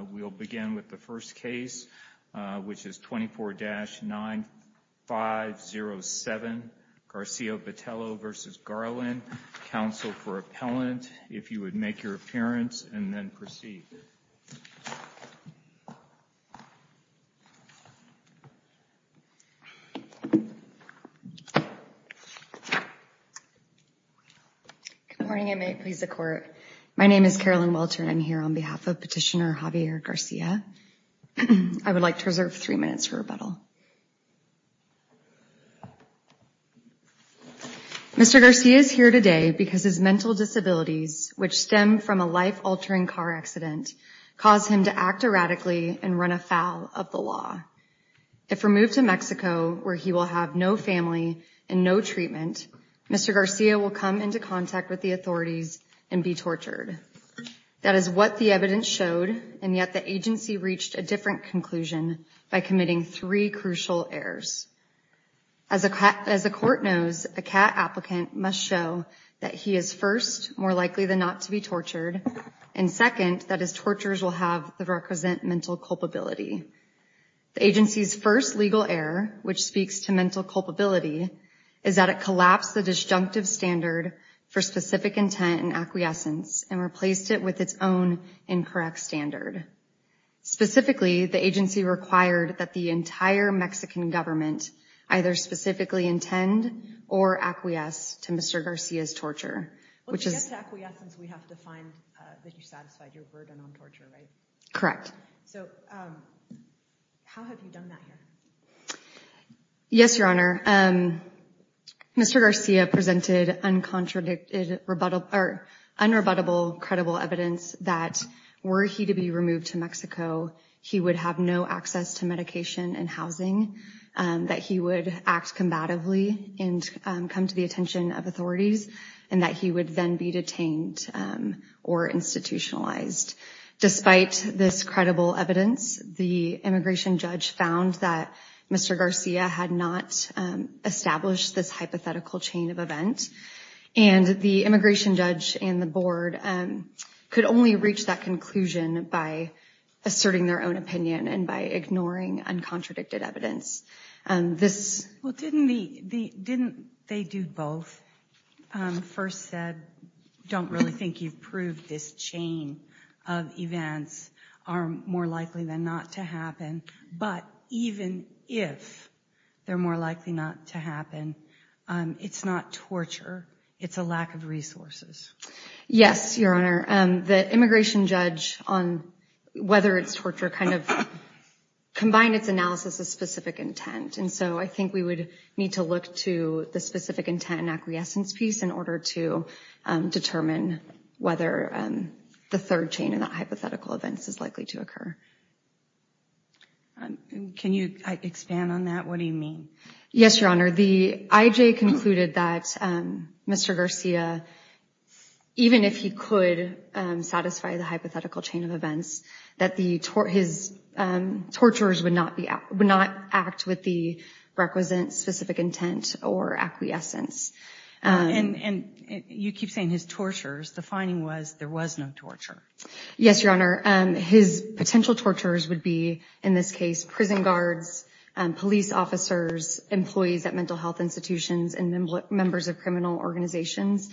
We'll begin with the first case, which is 24-9507, Garcia-Botello v. Garland, counsel for appellant, if you would make your appearance and then proceed. Good morning, I may please the court. My name is Carolyn Welter and I'm here on behalf of Petitioner Javier Garcia. I would like to reserve three minutes for rebuttal. Mr. Garcia is here today because his mental disabilities, which stem from a life-altering car accident, caused him to act erratically and run afoul of the law. If removed to Mexico, where he will have no family and no treatment, Mr. Garcia will come into contact with the authorities and be tortured. That is what the evidence showed, and yet the agency reached a different conclusion by committing three crucial errors. As the court knows, a CAT applicant must show that he is first, more likely than not to be tortured, and second, that his tortures will represent mental culpability. The agency's first legal error, which speaks to mental culpability, is that it collapsed the disjunctive standard for specific intent and acquiescence and replaced it with its own incorrect standard. Specifically, the agency required that the entire Mexican government either specifically intend or acquiesce to Mr. Garcia's torture, which is- Well, to get to acquiescence, we have to find that you satisfied your burden on torture, right? Correct. So, how have you done that here? Yes, Your Honor. Mr. Garcia presented unrebuttable, credible evidence that were he to be removed to Mexico, he would have no access to medication and housing, that he would act combatively and come to the attention of authorities, and that he would then be detained or institutionalized. Despite this credible evidence, the immigration judge found that Mr. Garcia had not established this hypothetical chain of events, and the immigration judge and the board could only reach that conclusion by asserting their own opinion and by ignoring uncontradicted evidence. This- Didn't they do both? First said, don't really think you've proved this chain of events are more likely than not to happen, but even if they're more likely not to happen, it's not torture, it's a lack of resources. Yes, Your Honor. The immigration judge on whether it's torture kind of combined its analysis of specific intent, and so I think we would need to look to the specific intent and acquiescence piece in order to determine whether the third chain of hypothetical events is likely to occur. Can you expand on that? What do you mean? Yes, Your Honor. The IJ concluded that Mr. Garcia, even if he could satisfy the hypothetical chain of events, that his torturers would not act with the requisite specific intent or acquiescence. You keep saying his torturers. The finding was there was no torture. Yes, Your Honor. His potential torturers would be, in this case, prison guards, police officers, employees at mental health institutions, and members of criminal organizations.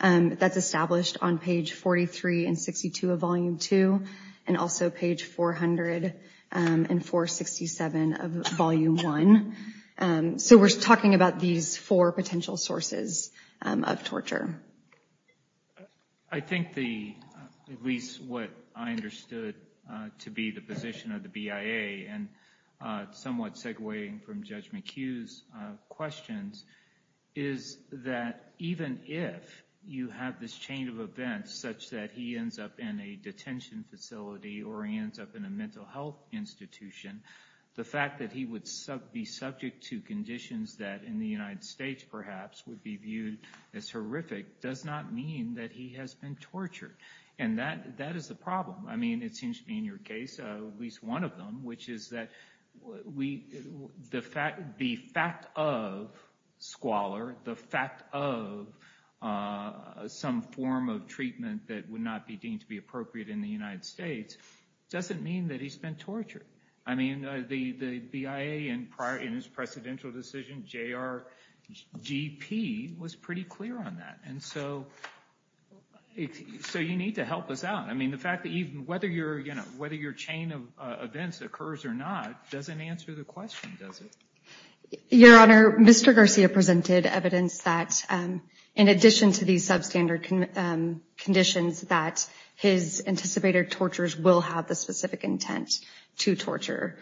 That's established on page 43 and 62 of Volume 2, and also page 400 and 467 of Volume 1. So we're talking about these four potential sources of torture. I think the, at least what I understood to be the position of the BIA, and somewhat segwaying from Judge McHugh's questions, is that even if you have this chain of events such that he ends up in a detention facility or he ends up in a mental health institution, the fact that he would be subject to conditions that in the United States, perhaps, would be viewed as horrific does not mean that he has been tortured. And that is the problem. I mean, it seems to me in your case, at least one of them, which is that the fact of squalor, the fact of some form of treatment that would not be deemed to be appropriate in the United States, doesn't mean that he's been tortured. I mean, the BIA, in his precedential decision, J.R.G.P. was pretty clear on that. And so you need to help us out. I mean, the fact that even whether your, you know, whether your chain of events occurs or not, doesn't answer the question, does it? Your Honor, Mr. Garcia presented evidence that, in addition to these substandard conditions, that his anticipated tortures will have the specific intent to torture.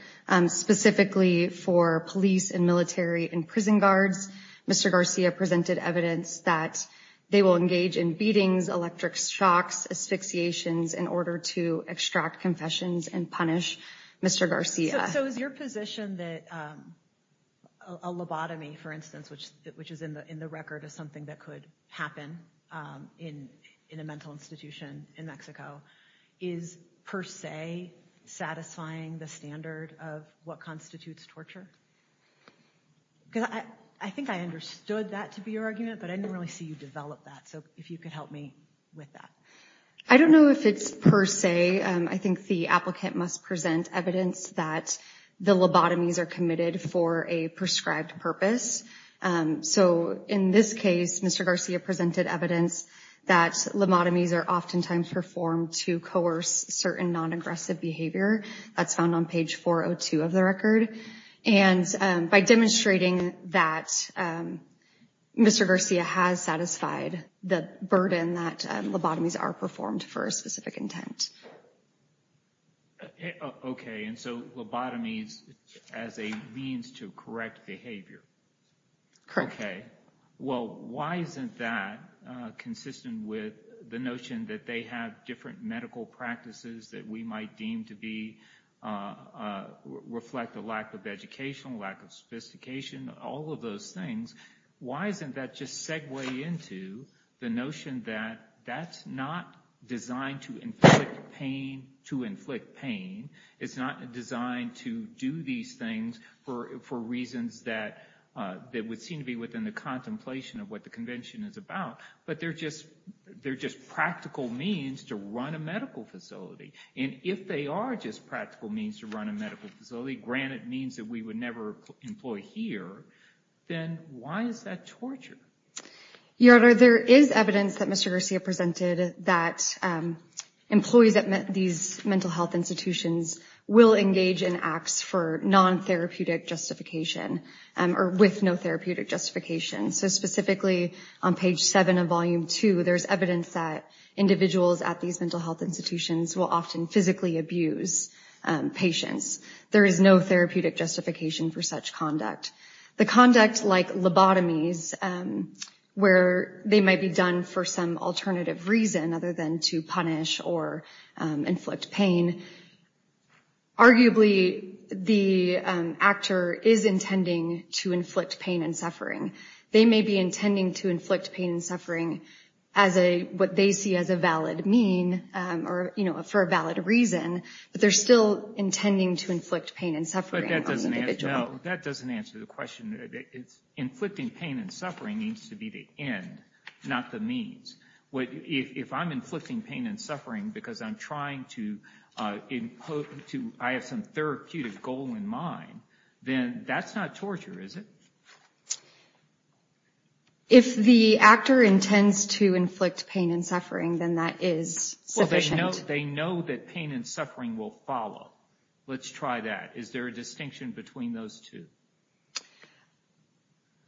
Specifically for police and military and prison guards, Mr. Garcia presented evidence that they will engage in beatings, electric shocks, asphyxiations, in order to extract confessions and punish Mr. Garcia. So is your position that a lobotomy, for instance, which is in the record as something that could happen in a mental institution in Mexico, is per se satisfying the standard of what constitutes torture? Because I think I understood that to be your argument, but I didn't really see you develop that. So if you could help me with that. I don't know if it's per se. I think the applicant must present evidence that the lobotomies are committed for a prescribed purpose. So in this case, Mr. Garcia presented evidence that lobotomies are oftentimes performed to coerce certain non-aggressive behavior. That's found on page 402 of the record. And by demonstrating that Mr. Garcia has satisfied the burden that lobotomies are performed for a specific intent. Okay, and so lobotomies as a means to correct behavior. Correct. Okay. Well, why isn't that consistent with the notion that they have different medical practices that we might deem to reflect a lack of education, lack of sophistication, all of those things. Why isn't that just segue into the notion that that's not designed to inflict pain. It's not designed to do these things for reasons that would seem to be within the contemplation of what the convention is about. But they're just practical means to run a medical facility. And if they are just practical means to run a medical facility, granted means that we would never employ here, then why is that torture? Your Honor, there is evidence that Mr. Garcia presented that employees at these mental health institutions will engage in acts for non-therapeutic justification or with no therapeutic justification. So specifically on page seven of volume two, there's evidence that individuals at these mental health institutions will often physically abuse patients. There is no therapeutic justification for such conduct. The conduct like lobotomies, where they might be done for some alternative reason other than to punish or inflict pain, arguably the actor is intending to inflict pain and suffering. They may be intending to inflict pain and suffering as what they see as a valid mean or for a valid reason, but they're still intending to inflict pain and suffering on the individual. That doesn't answer the question. Inflicting pain and suffering needs to be the end, not the means. If I'm inflicting pain and suffering because I'm trying to impose, I have some therapeutic goal in mind, then that's not torture, is it? If the actor intends to inflict pain and suffering, then that is sufficient. They know that pain and suffering will follow. Let's try that. Is there a distinction between those two?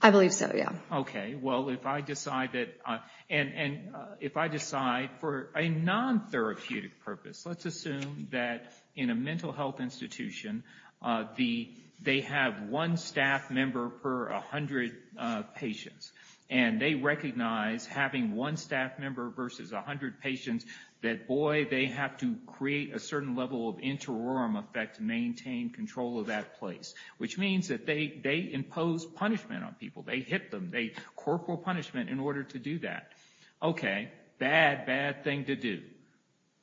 I believe so, yeah. Okay. Well, if I decide that, and if I decide for a non-therapeutic purpose, let's assume that in a mental health institution, they have one staff member per 100 patients, and they recognize having one staff member versus 100 patients, that boy, they have to create a certain level of interim effect to maintain control of that place. Which means that they impose punishment on people. They hit them. Corporal punishment in order to do that. Okay. Bad, bad thing to do.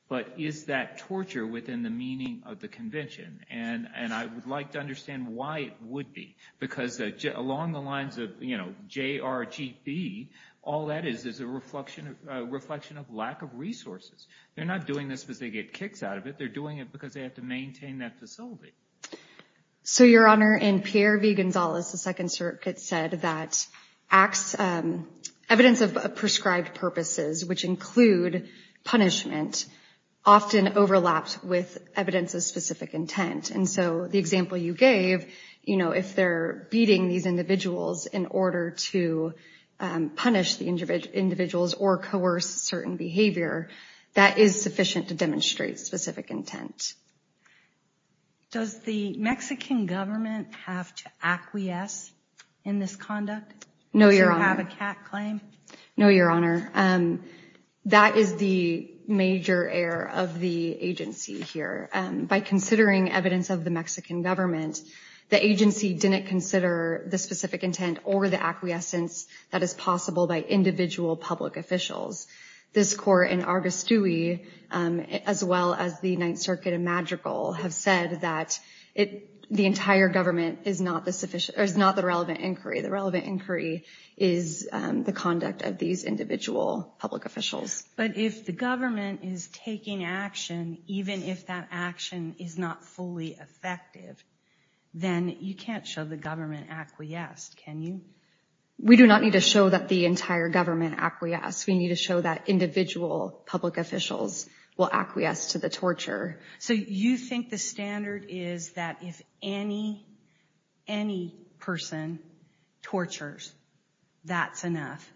But is that torture within the meaning of the convention? And I would like to understand why it would be. Because along the lines of JRGB, all that is is a reflection of lack of resources. They're not doing this because they get kicks out of it. They're doing it because they have to maintain that facility. So, Your Honor, in Pierre v. Gonzales, the Second Circuit said that evidence of prescribed purposes, which include punishment, often overlaps with evidence of specific intent. And so the example you gave, you know, if they're beating these individuals in order to punish the individuals or coerce certain behavior, that is sufficient to demonstrate specific intent. Does the Mexican government have to acquiesce in this conduct? No, Your Honor. Does it have a cat claim? No, Your Honor. That is the major error of the agency here. By considering evidence of the Mexican government, the agency didn't consider the specific intent or the acquiescence that is possible by individual public officials. This Court and Argos Dewey, as well as the Ninth Circuit and Madrigal, have said that the entire government is not the relevant inquiry. The relevant inquiry is the conduct of these individual public officials. But if the government is taking action, even if that action is not fully effective, then you can't show the government acquiesced, can you? We do not need to show that the entire government acquiesced. We need to show that individual public officials will acquiesce to the torture. So you think the standard is that if any, any person tortures, that's enough?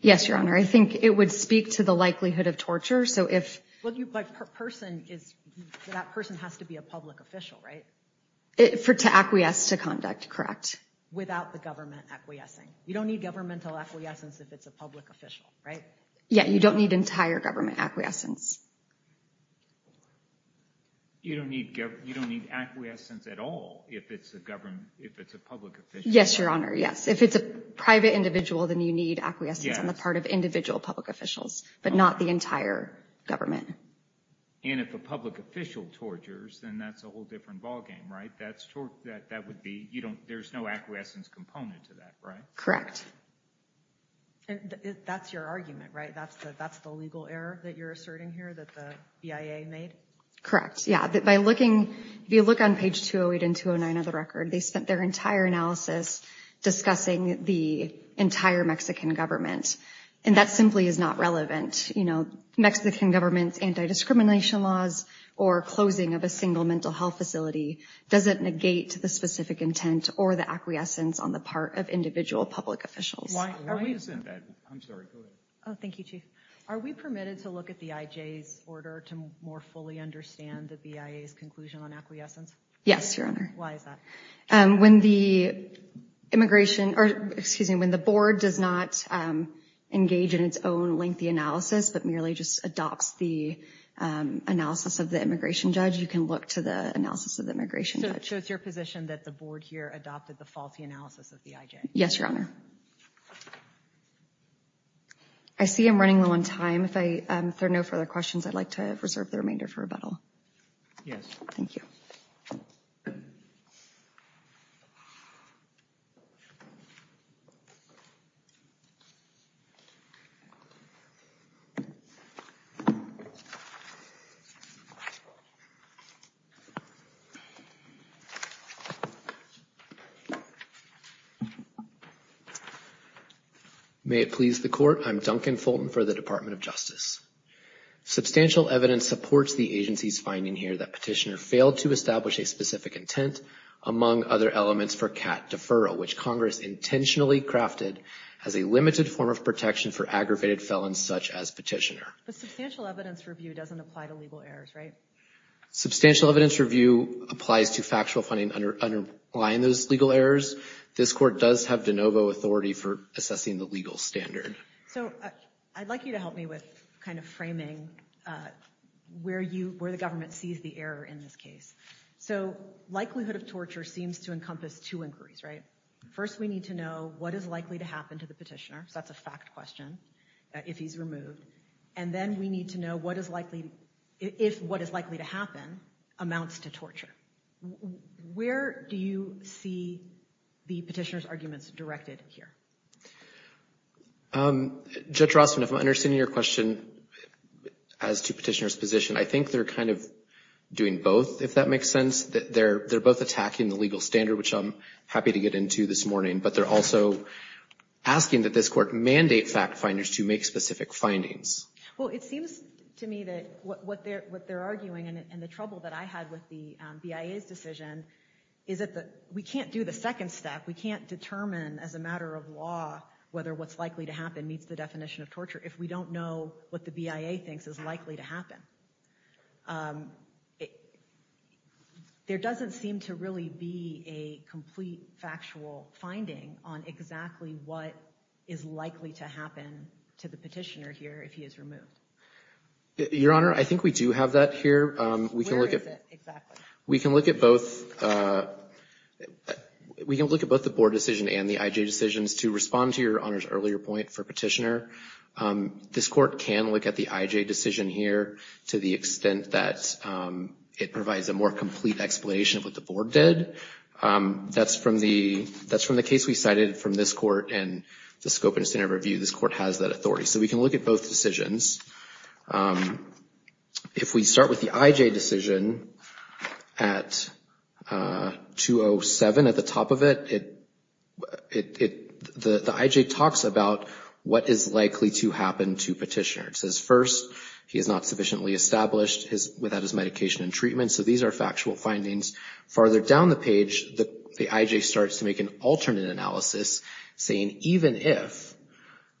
Yes, Your Honor. I think it would speak to the likelihood of torture. So if... But that person has to be a public official, right? To acquiesce to conduct, correct. Without the government acquiescing. You don't need governmental acquiescence if it's a public official, right? Yeah, you don't need entire government acquiescence. You don't need acquiescence at all if it's a public official? Yes, Your Honor, yes. If it's a private individual, then you need acquiescence on the part of individual public officials, but not the entire government. And if a public official tortures, then that's a whole different ballgame, right? That would be... There's no acquiescence component to that, right? And that's your argument, right? That's the legal error that you're asserting here that the BIA made? Correct, yeah. By looking... If you look on page 208 and 209 of the record, they spent their entire analysis discussing the entire Mexican government. And that simply is not relevant. You know, Mexican government's anti-discrimination laws or closing of a single mental health facility doesn't negate the specific intent or the acquiescence on the part of individual public officials. Why isn't that? I'm sorry, go ahead. Oh, thank you, Chief. Are we permitted to look at the IJ's order to more fully understand the BIA's conclusion on acquiescence? Yes, Your Honor. Why is that? When the immigration... Or, excuse me, when the board does not engage in its own lengthy analysis, but merely just adopts the analysis of the immigration judge, you can look to the analysis of the immigration judge. So it's your position that the board here adopted the faulty analysis of the IJ? Yes, Your Honor. I see I'm running low on time. If there are no further questions, I'd like to reserve the remainder for rebuttal. Yes. Thank you. May it please the Court, I'm Duncan Fulton for the Department of Justice. Substantial evidence supports the agency's finding here that Petitioner failed to establish a specific intent, among other elements, for CAT deferral, which Congress intentionally crafted as a limited form of protection for aggravated felons such as Petitioner. But substantial evidence review doesn't apply to legal errors, right? Substantial evidence review applies to factual finding underlying those legal errors. This Court does have de novo authority for assessing the legal standard. So I'd like you to help me with framing where the government sees the error in this case. So likelihood of torture seems to encompass two inquiries, right? First we need to know what is likely to happen to the Petitioner, so that's a fact question, if he's removed. And then we need to know what is likely, if what is likely to happen amounts to torture. Where do you see the Petitioner's arguments directed here? Judge Rossman, if I'm understanding your question as to Petitioner's position, I think they're kind of doing both, if that makes sense. They're both attacking the legal standard, which I'm happy to get into this morning. But they're also asking that this Court mandate fact finders to make specific findings. Well, it seems to me that what they're arguing, and the trouble that I had with the BIA's decision, is that we can't do the second step. We can't determine as a matter of law whether what's likely to happen meets the definition of torture if we don't know what the BIA thinks is likely to happen. There doesn't seem to really be a complete factual finding on exactly what is likely to happen to the Petitioner here if he is removed. Your Honor, I think we do have that here. Where is it exactly? We can look at both the Board decision and the IJ decisions to respond to your Honor's earlier point for Petitioner. This Court can look at the IJ decision here to the extent that it provides a more complete explanation of what the Board did. That's from the case we cited from this Court and the scope and extent of review, this Court has that authority. So we can look at both decisions. If we start with the IJ decision at 207, at the top of it, the IJ talks about what is likely to happen to Petitioner. It says, first, he is not sufficiently established without his medication and treatment. So these are factual findings. Farther down the page, the IJ starts to make an alternate analysis saying even if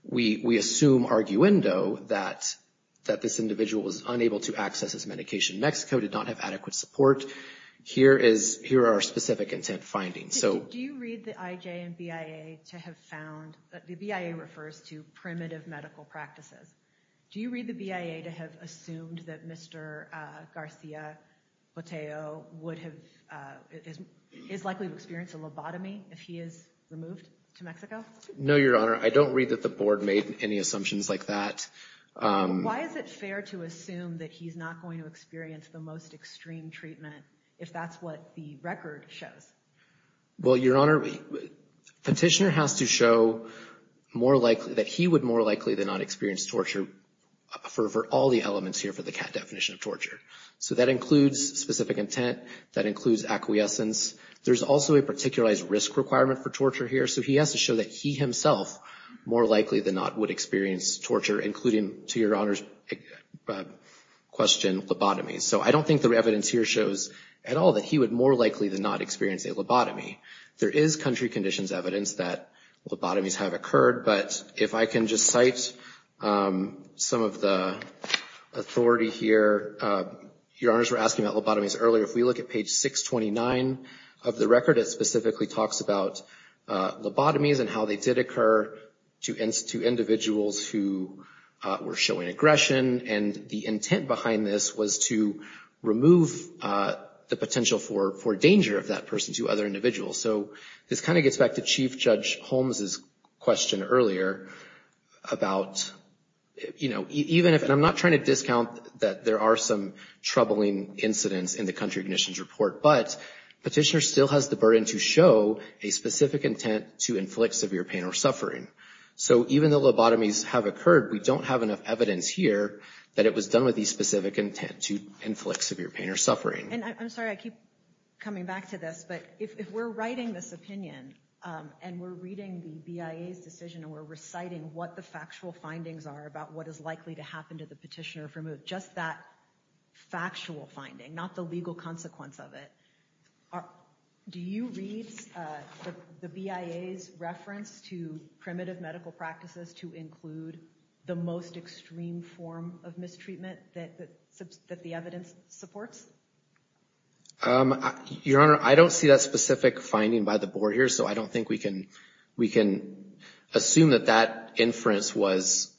we assume arguendo that this individual was unable to access his medication, Mexico did not have adequate support, here are our specific intent findings. Do you read the IJ and BIA to have found, the BIA refers to primitive medical practices. Do you read the BIA to have assumed that Mr. Garcia Botero is likely to experience a lobotomy if he is removed to Mexico? No, Your Honor. I don't read that the Board made any assumptions like that. Why is it fair to assume that he's not going to experience the most extreme treatment if that's what the record shows? Well, Your Honor, Petitioner has to show more likely that he would more likely than not experience torture for all the elements here for the CAT definition of torture. So that includes specific intent. That includes acquiescence. There's also a particularized risk requirement for torture here. So he has to show that he himself more likely than not would experience torture, including, to Your Honor's question, lobotomy. So I don't think the evidence here shows at all that he would more likely than not experience a lobotomy. There is country conditions evidence that lobotomies have occurred, but if I can just cite some of the authority here, Your Honors were asking about lobotomies earlier. If we look at page 629 of the record, it specifically talks about lobotomies and how they did occur to individuals who were showing aggression. And the intent behind this was to remove the potential for danger of that person to other individuals. So this kind of gets back to Chief Judge Holmes' question earlier about, you know, even if and I'm not trying to discount that there are some troubling incidents in the country conditions report, but Petitioner still has the burden to show a specific intent to inflict severe pain or suffering. So even though lobotomies have occurred, we don't have enough evidence here that it was done with the specific intent to inflict severe pain or suffering. And I'm sorry, I keep coming back to this, but if we're writing this opinion and we're reading the BIA's decision and we're reciting what the factual findings are about what is likely to happen to the petitioner if removed, just that factual finding, not the legal consequence of it, do you read the BIA's reference to primitive medical practices to include the most extreme form of mistreatment that the evidence supports? Your Honor, I don't see that specific finding by the board here, so I don't think we can assume that that inference was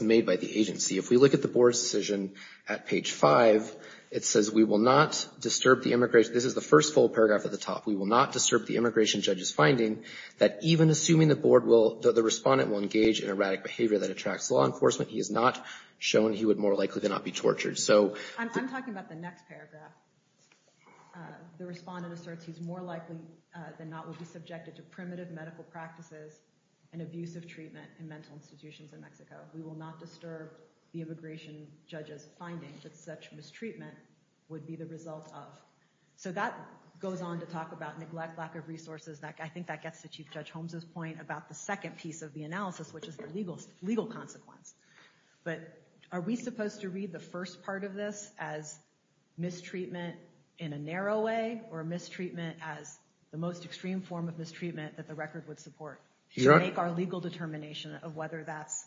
made by the agency. If we look at the board's decision at page five, it says, we will not disturb the immigration this is the first full paragraph at the top, we will not disturb the immigration judge's finding that even assuming the board will, the respondent will engage in erratic behavior that attracts law enforcement, he is not shown, he would more likely than not be tortured. So I'm talking about the next paragraph. The respondent asserts he's more likely than not will be subjected to primitive medical practices and abusive treatment in mental institutions in Mexico. We will not disturb the immigration judge's finding that such mistreatment would be the result of. So that goes on to talk about neglect, lack of resources, I think that gets to Chief Judge Holmes' point about the second piece of the analysis, which is the legal consequence. But are we supposed to read the first part of this as mistreatment in a narrow way or mistreatment as the most extreme form of mistreatment that the record would support? To make our legal determination of whether that's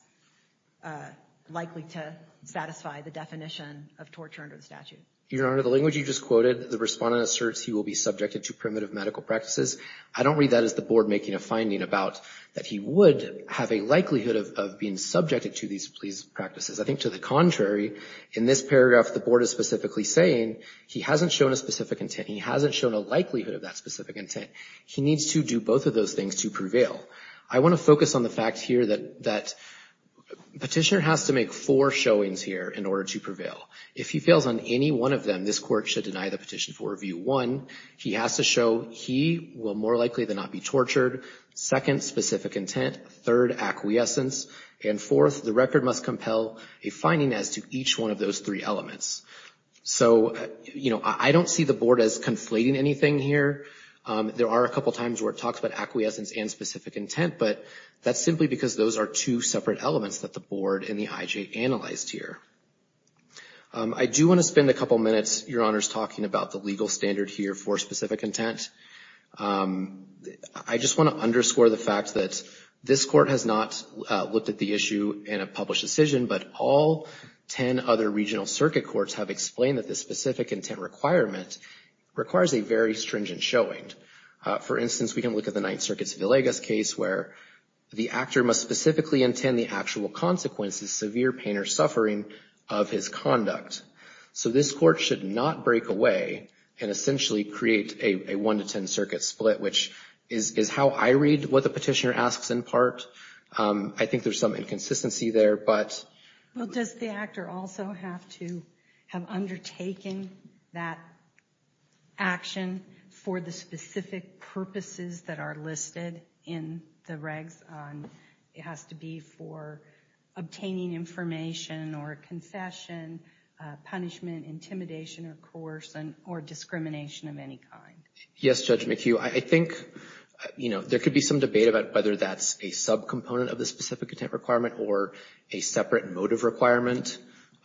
likely to satisfy the definition of torture under the statute. Your Honor, the language you just quoted, the respondent asserts he will be subjected to primitive medical practices. I don't read that as the board making a finding about that he would have a likelihood of being subjected to these practices. I think to the contrary, in this paragraph, the board is specifically saying he hasn't shown a specific intent, he hasn't shown a likelihood of that specific intent. He needs to do both of those things to prevail. I want to focus on the fact here that Petitioner has to make four showings here in order to If he fails on any one of them, this court should deny the petition for Review 1. He has to show he will more likely than not be tortured, second, specific intent, third, acquiescence, and fourth, the record must compel a finding as to each one of those three So I don't see the board as conflating anything here. There are a couple times where it talks about acquiescence and specific intent, but that's simply because those are two separate elements that the board and the IJ analyzed here. I do want to spend a couple minutes, Your Honors, talking about the legal standard here for specific intent. I just want to underscore the fact that this court has not looked at the issue in a published decision, but all 10 other regional circuit courts have explained that this specific intent requirement requires a very stringent showing. For instance, we can look at the Ninth Circuit's Villegas case where the actor must specifically intend the actual consequences, severe pain or suffering, of his conduct. So this court should not break away and essentially create a 1-10 circuit split, which is how I read what the Petitioner asks in part. I think there's some inconsistency there, but Well, does the actor also have to have undertaken that action for the specific purposes that are listed in the regs? It has to be for obtaining information or confession, punishment, intimidation or coercion or discrimination of any kind. Yes, Judge McHugh. I think, you know, there could be some debate about whether that's a subcomponent of the current motive requirement,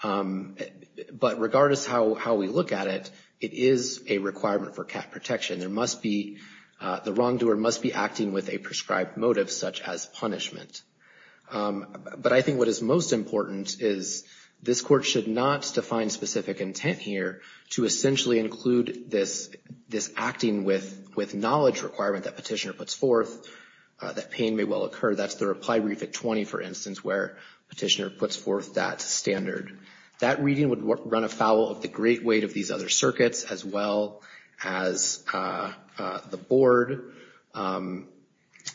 but regardless how we look at it, it is a requirement for cap protection. There must be, the wrongdoer must be acting with a prescribed motive, such as punishment. But I think what is most important is this court should not define specific intent here to essentially include this acting with knowledge requirement that Petitioner puts forth, that pain may well occur. That's the reply brief at 20, for instance, where Petitioner puts forth that standard. That reading would run afoul of the great weight of these other circuits as well as the board.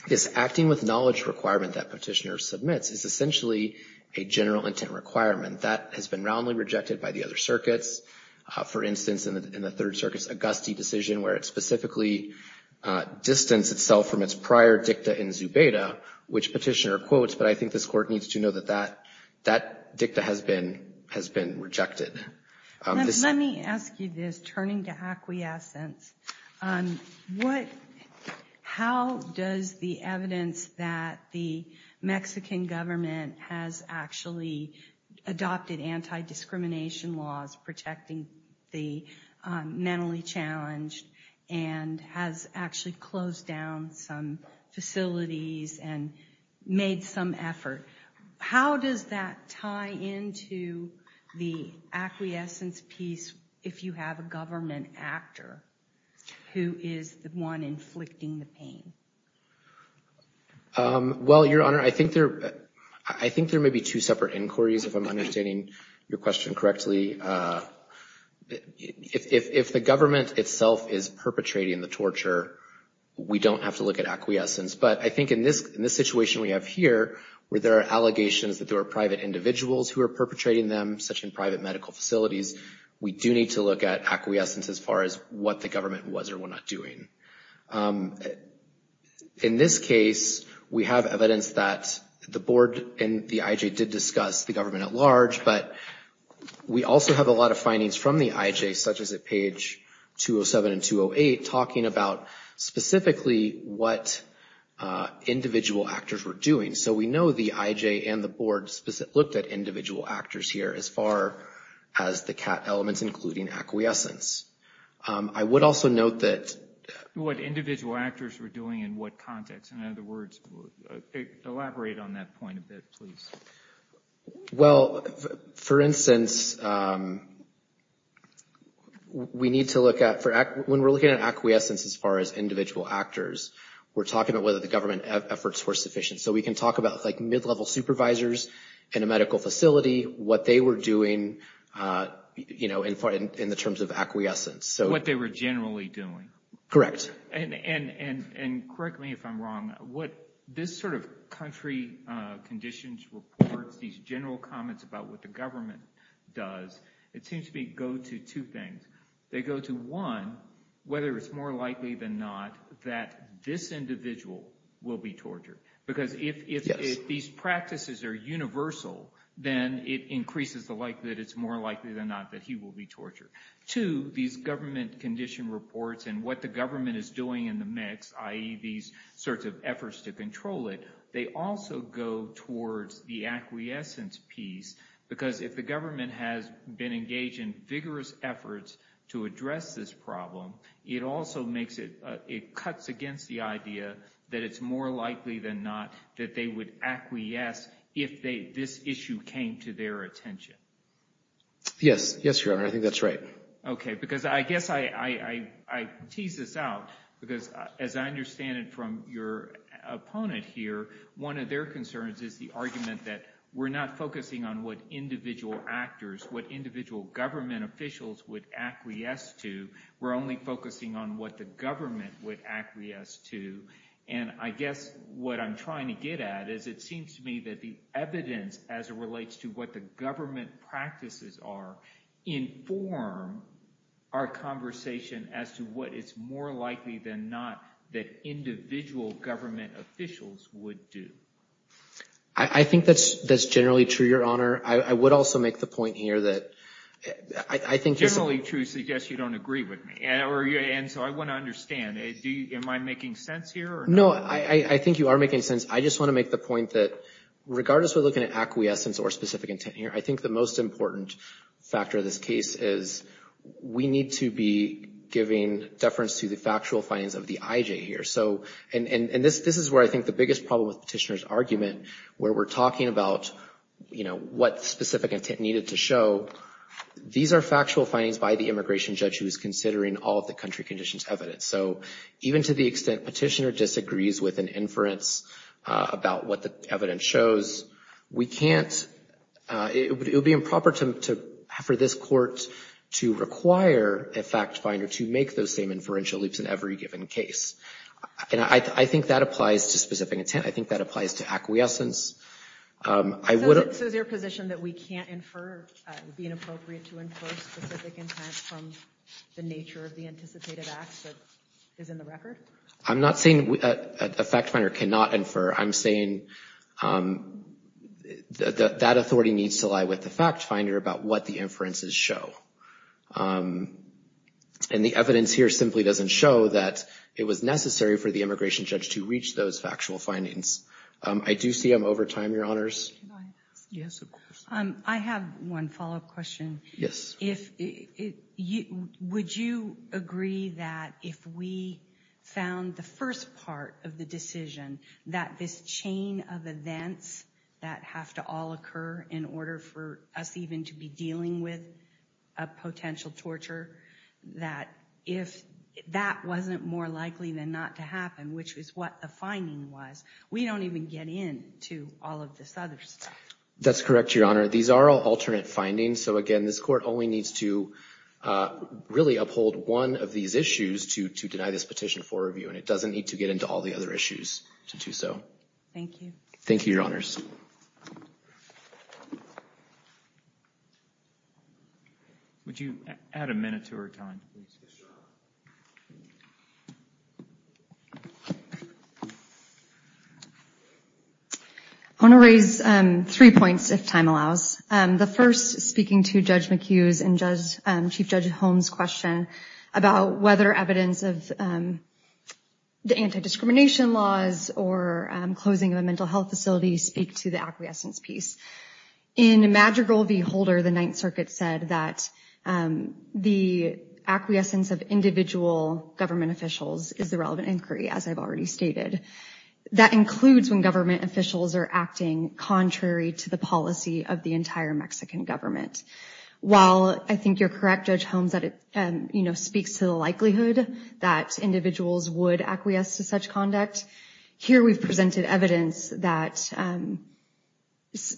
This acting with knowledge requirement that Petitioner submits is essentially a general intent requirement that has been roundly rejected by the other circuits. For instance, in the Third Circuit's Auguste decision where it specifically distanced itself from its prior dicta in Zubeda, which Petitioner quotes, but I think this court needs to know that that dicta has been rejected. Let me ask you this, turning to acquiescence. How does the evidence that the Mexican government has actually adopted anti-discrimination laws protecting the mentally challenged and has actually closed down some facilities and made some effort, how does that tie into the acquiescence piece if you have a government actor who is the one inflicting the pain? Well Your Honor, I think there may be two separate inquiries, if I'm understanding your question correctly. If the government itself is perpetrating the torture, we don't have to look at acquiescence. But I think in this situation we have here, where there are allegations that there are private individuals who are perpetrating them, such in private medical facilities, we do need to look at acquiescence as far as what the government was or was not doing. In this case, we have evidence that the board and the IJ did discuss the government at large, but we also have a lot of findings from the IJ, such as at page 207 and 208, talking about specifically what individual actors were doing. So we know the IJ and the board looked at individual actors here as far as the CAT elements, including acquiescence. I would also note that... What individual actors were doing in what context? In other words, elaborate on that point a bit, please. Well, for instance, we need to look at... When we're looking at acquiescence as far as individual actors, we're talking about whether the government efforts were sufficient. So we can talk about mid-level supervisors in a medical facility, what they were doing in the terms of acquiescence. What they were generally doing. Correct. And correct me if I'm wrong, what this sort of country conditions reports, these general comments about what the government does, it seems to me go to two things. They go to one, whether it's more likely than not that this individual will be tortured. Because if these practices are universal, then it increases the like that it's more likely than not that he will be tortured. Two, these government condition reports and what the government is doing in the mix, i.e. these sorts of efforts to control it, they also go towards the acquiescence piece. Because if the government has been engaged in vigorous efforts to address this problem, it also makes it... It cuts against the idea that it's more likely than not that they would acquiesce if this issue came to their attention. Yes, yes, Your Honor, I think that's right. Okay, because I guess I tease this out, because as I understand it from your opponent here, one of their concerns is the argument that we're not focusing on what individual actors, what individual government officials would acquiesce to, we're only focusing on what the government would acquiesce to. And I guess what I'm trying to get at is it seems to me that the evidence as it relates to what the government practices are inform our conversation as to what is more likely than not that individual government officials would do. I think that's generally true, Your Honor. I would also make the point here that I think... Generally true suggests you don't agree with me. And so I want to understand, am I making sense here? No, I think you are making sense. I just want to make the point that regardless we're looking at acquiescence or specific intent here, I think the most important factor of this case is we need to be giving deference to the factual findings of the IJ here. So, and this is where I think the biggest problem with Petitioner's argument, where we're talking about, you know, what specific intent needed to show, these are factual findings by the immigration judge who is considering all of the country conditions evidence. So even to the extent Petitioner disagrees with an inference about what the evidence shows, we can't, it would be improper to, for this court to require a fact finder to make those same inferential leaps in every given case. And I think that applies to specific intent. I think that applies to acquiescence. I would... So is your position that we can't infer, it would be inappropriate to infer specific intent from the nature of the anticipated acts that is in the record? I'm not saying a fact finder cannot infer. I'm saying that authority needs to lie with the fact finder about what the inferences show. And the evidence here simply doesn't show that it was necessary for the immigration judge to reach those factual findings. I do see I'm over time, Your Honors. Can I ask? Yes, of course. I have one follow-up question. Yes. If, would you agree that if we found the first part of the decision, that this chain of events that have to all occur in order for us even to be dealing with a potential torture, that if that wasn't more likely than not to happen, which is what the finding was, we don't even get in to all of this other stuff. That's correct, Your Honor. These are all alternate findings. So again, this court only needs to really uphold one of these issues to deny this petition for review. And it doesn't need to get into all the other issues to do so. Thank you. Thank you, Your Honors. Would you add a minute to her time, please? I want to raise three points, if time allows. The first, speaking to Judge McHugh's and Chief Judge Holmes' question about whether evidence of the anti-discrimination laws or closing of a mental health facility speak to the acquiescence piece. In Madrigal v. Holder, the Ninth Circuit said that the acquiescence of individual government officials is the relevant inquiry, as I've already stated. That includes when government officials are acting contrary to the policy of the entire Mexican government. While I think you're correct, Judge Holmes, that it speaks to the likelihood that individuals would acquiesce to such conduct, here we've presented evidence that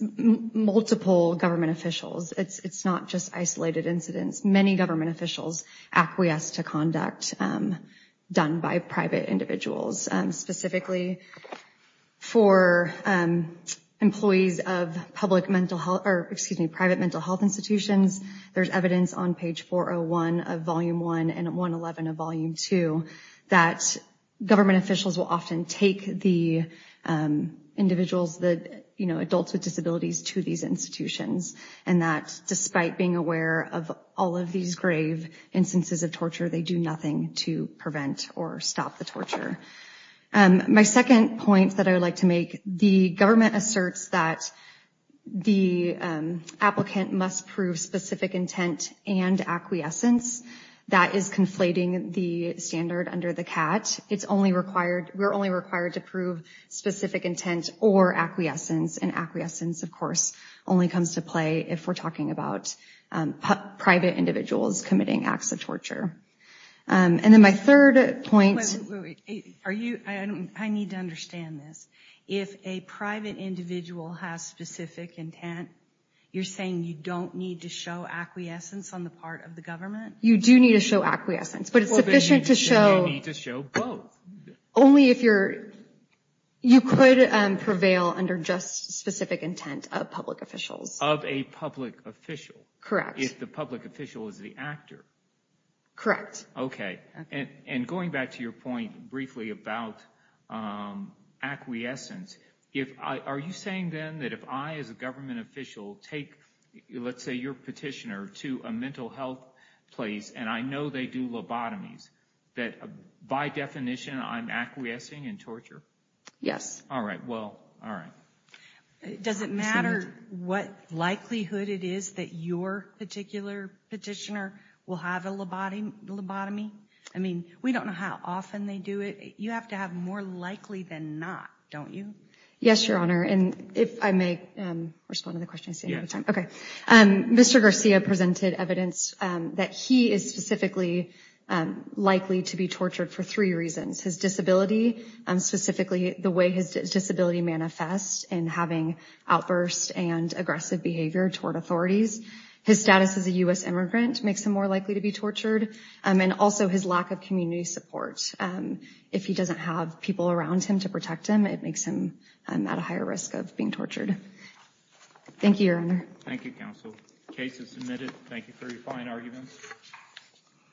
multiple government officials, it's not just isolated incidents, many government officials acquiesce to conduct done by private individuals. Specifically, for employees of private mental health institutions, there's evidence on page 401 of Volume I and 111 of Volume II that government officials will often take the individuals, the adults with disabilities, to these institutions. And that despite being aware of all of these grave instances of torture, they do nothing to prevent or stop the torture. My second point that I would like to make, the government asserts that the applicant must prove specific intent and acquiescence. That is conflating the standard under the CAT. We're only required to prove specific intent or acquiescence, and acquiescence, of course, only comes to play if we're talking about private individuals committing acts of torture. And then my third point— Wait, wait, wait, are you—I need to understand this. If a private individual has specific intent, you're saying you don't need to show acquiescence on the part of the government? You do need to show acquiescence, but it's sufficient to show— Well, then you need to show both. Only if you're—you could prevail under just specific intent of public officials. Of a public official. Correct. If the public official is the actor. Correct. Okay, and going back to your point briefly about acquiescence, are you saying then that if I, as a government official, take, let's say, your petitioner to a mental health place, and I know they do lobotomies, that, by definition, I'm acquiescing in torture? Yes. All right, well, all right. Does it matter what likelihood it is that your particular petitioner will have a lobotomy? I mean, we don't know how often they do it. You have to have more likely than not, don't you? Yes, Your Honor, and if I may respond to the question and stay out of time. Mr. Garcia presented evidence that he is specifically likely to be tortured for three reasons. His disability, specifically the way his disability manifests in having outbursts and aggressive behavior toward authorities. His status as a U.S. immigrant makes him more likely to be tortured, and also his lack of community support. If he doesn't have people around him to protect him, it makes him at a higher risk of being tortured. Thank you, Your Honor. Thank you, counsel. Case is submitted. Thank you for your fine arguments.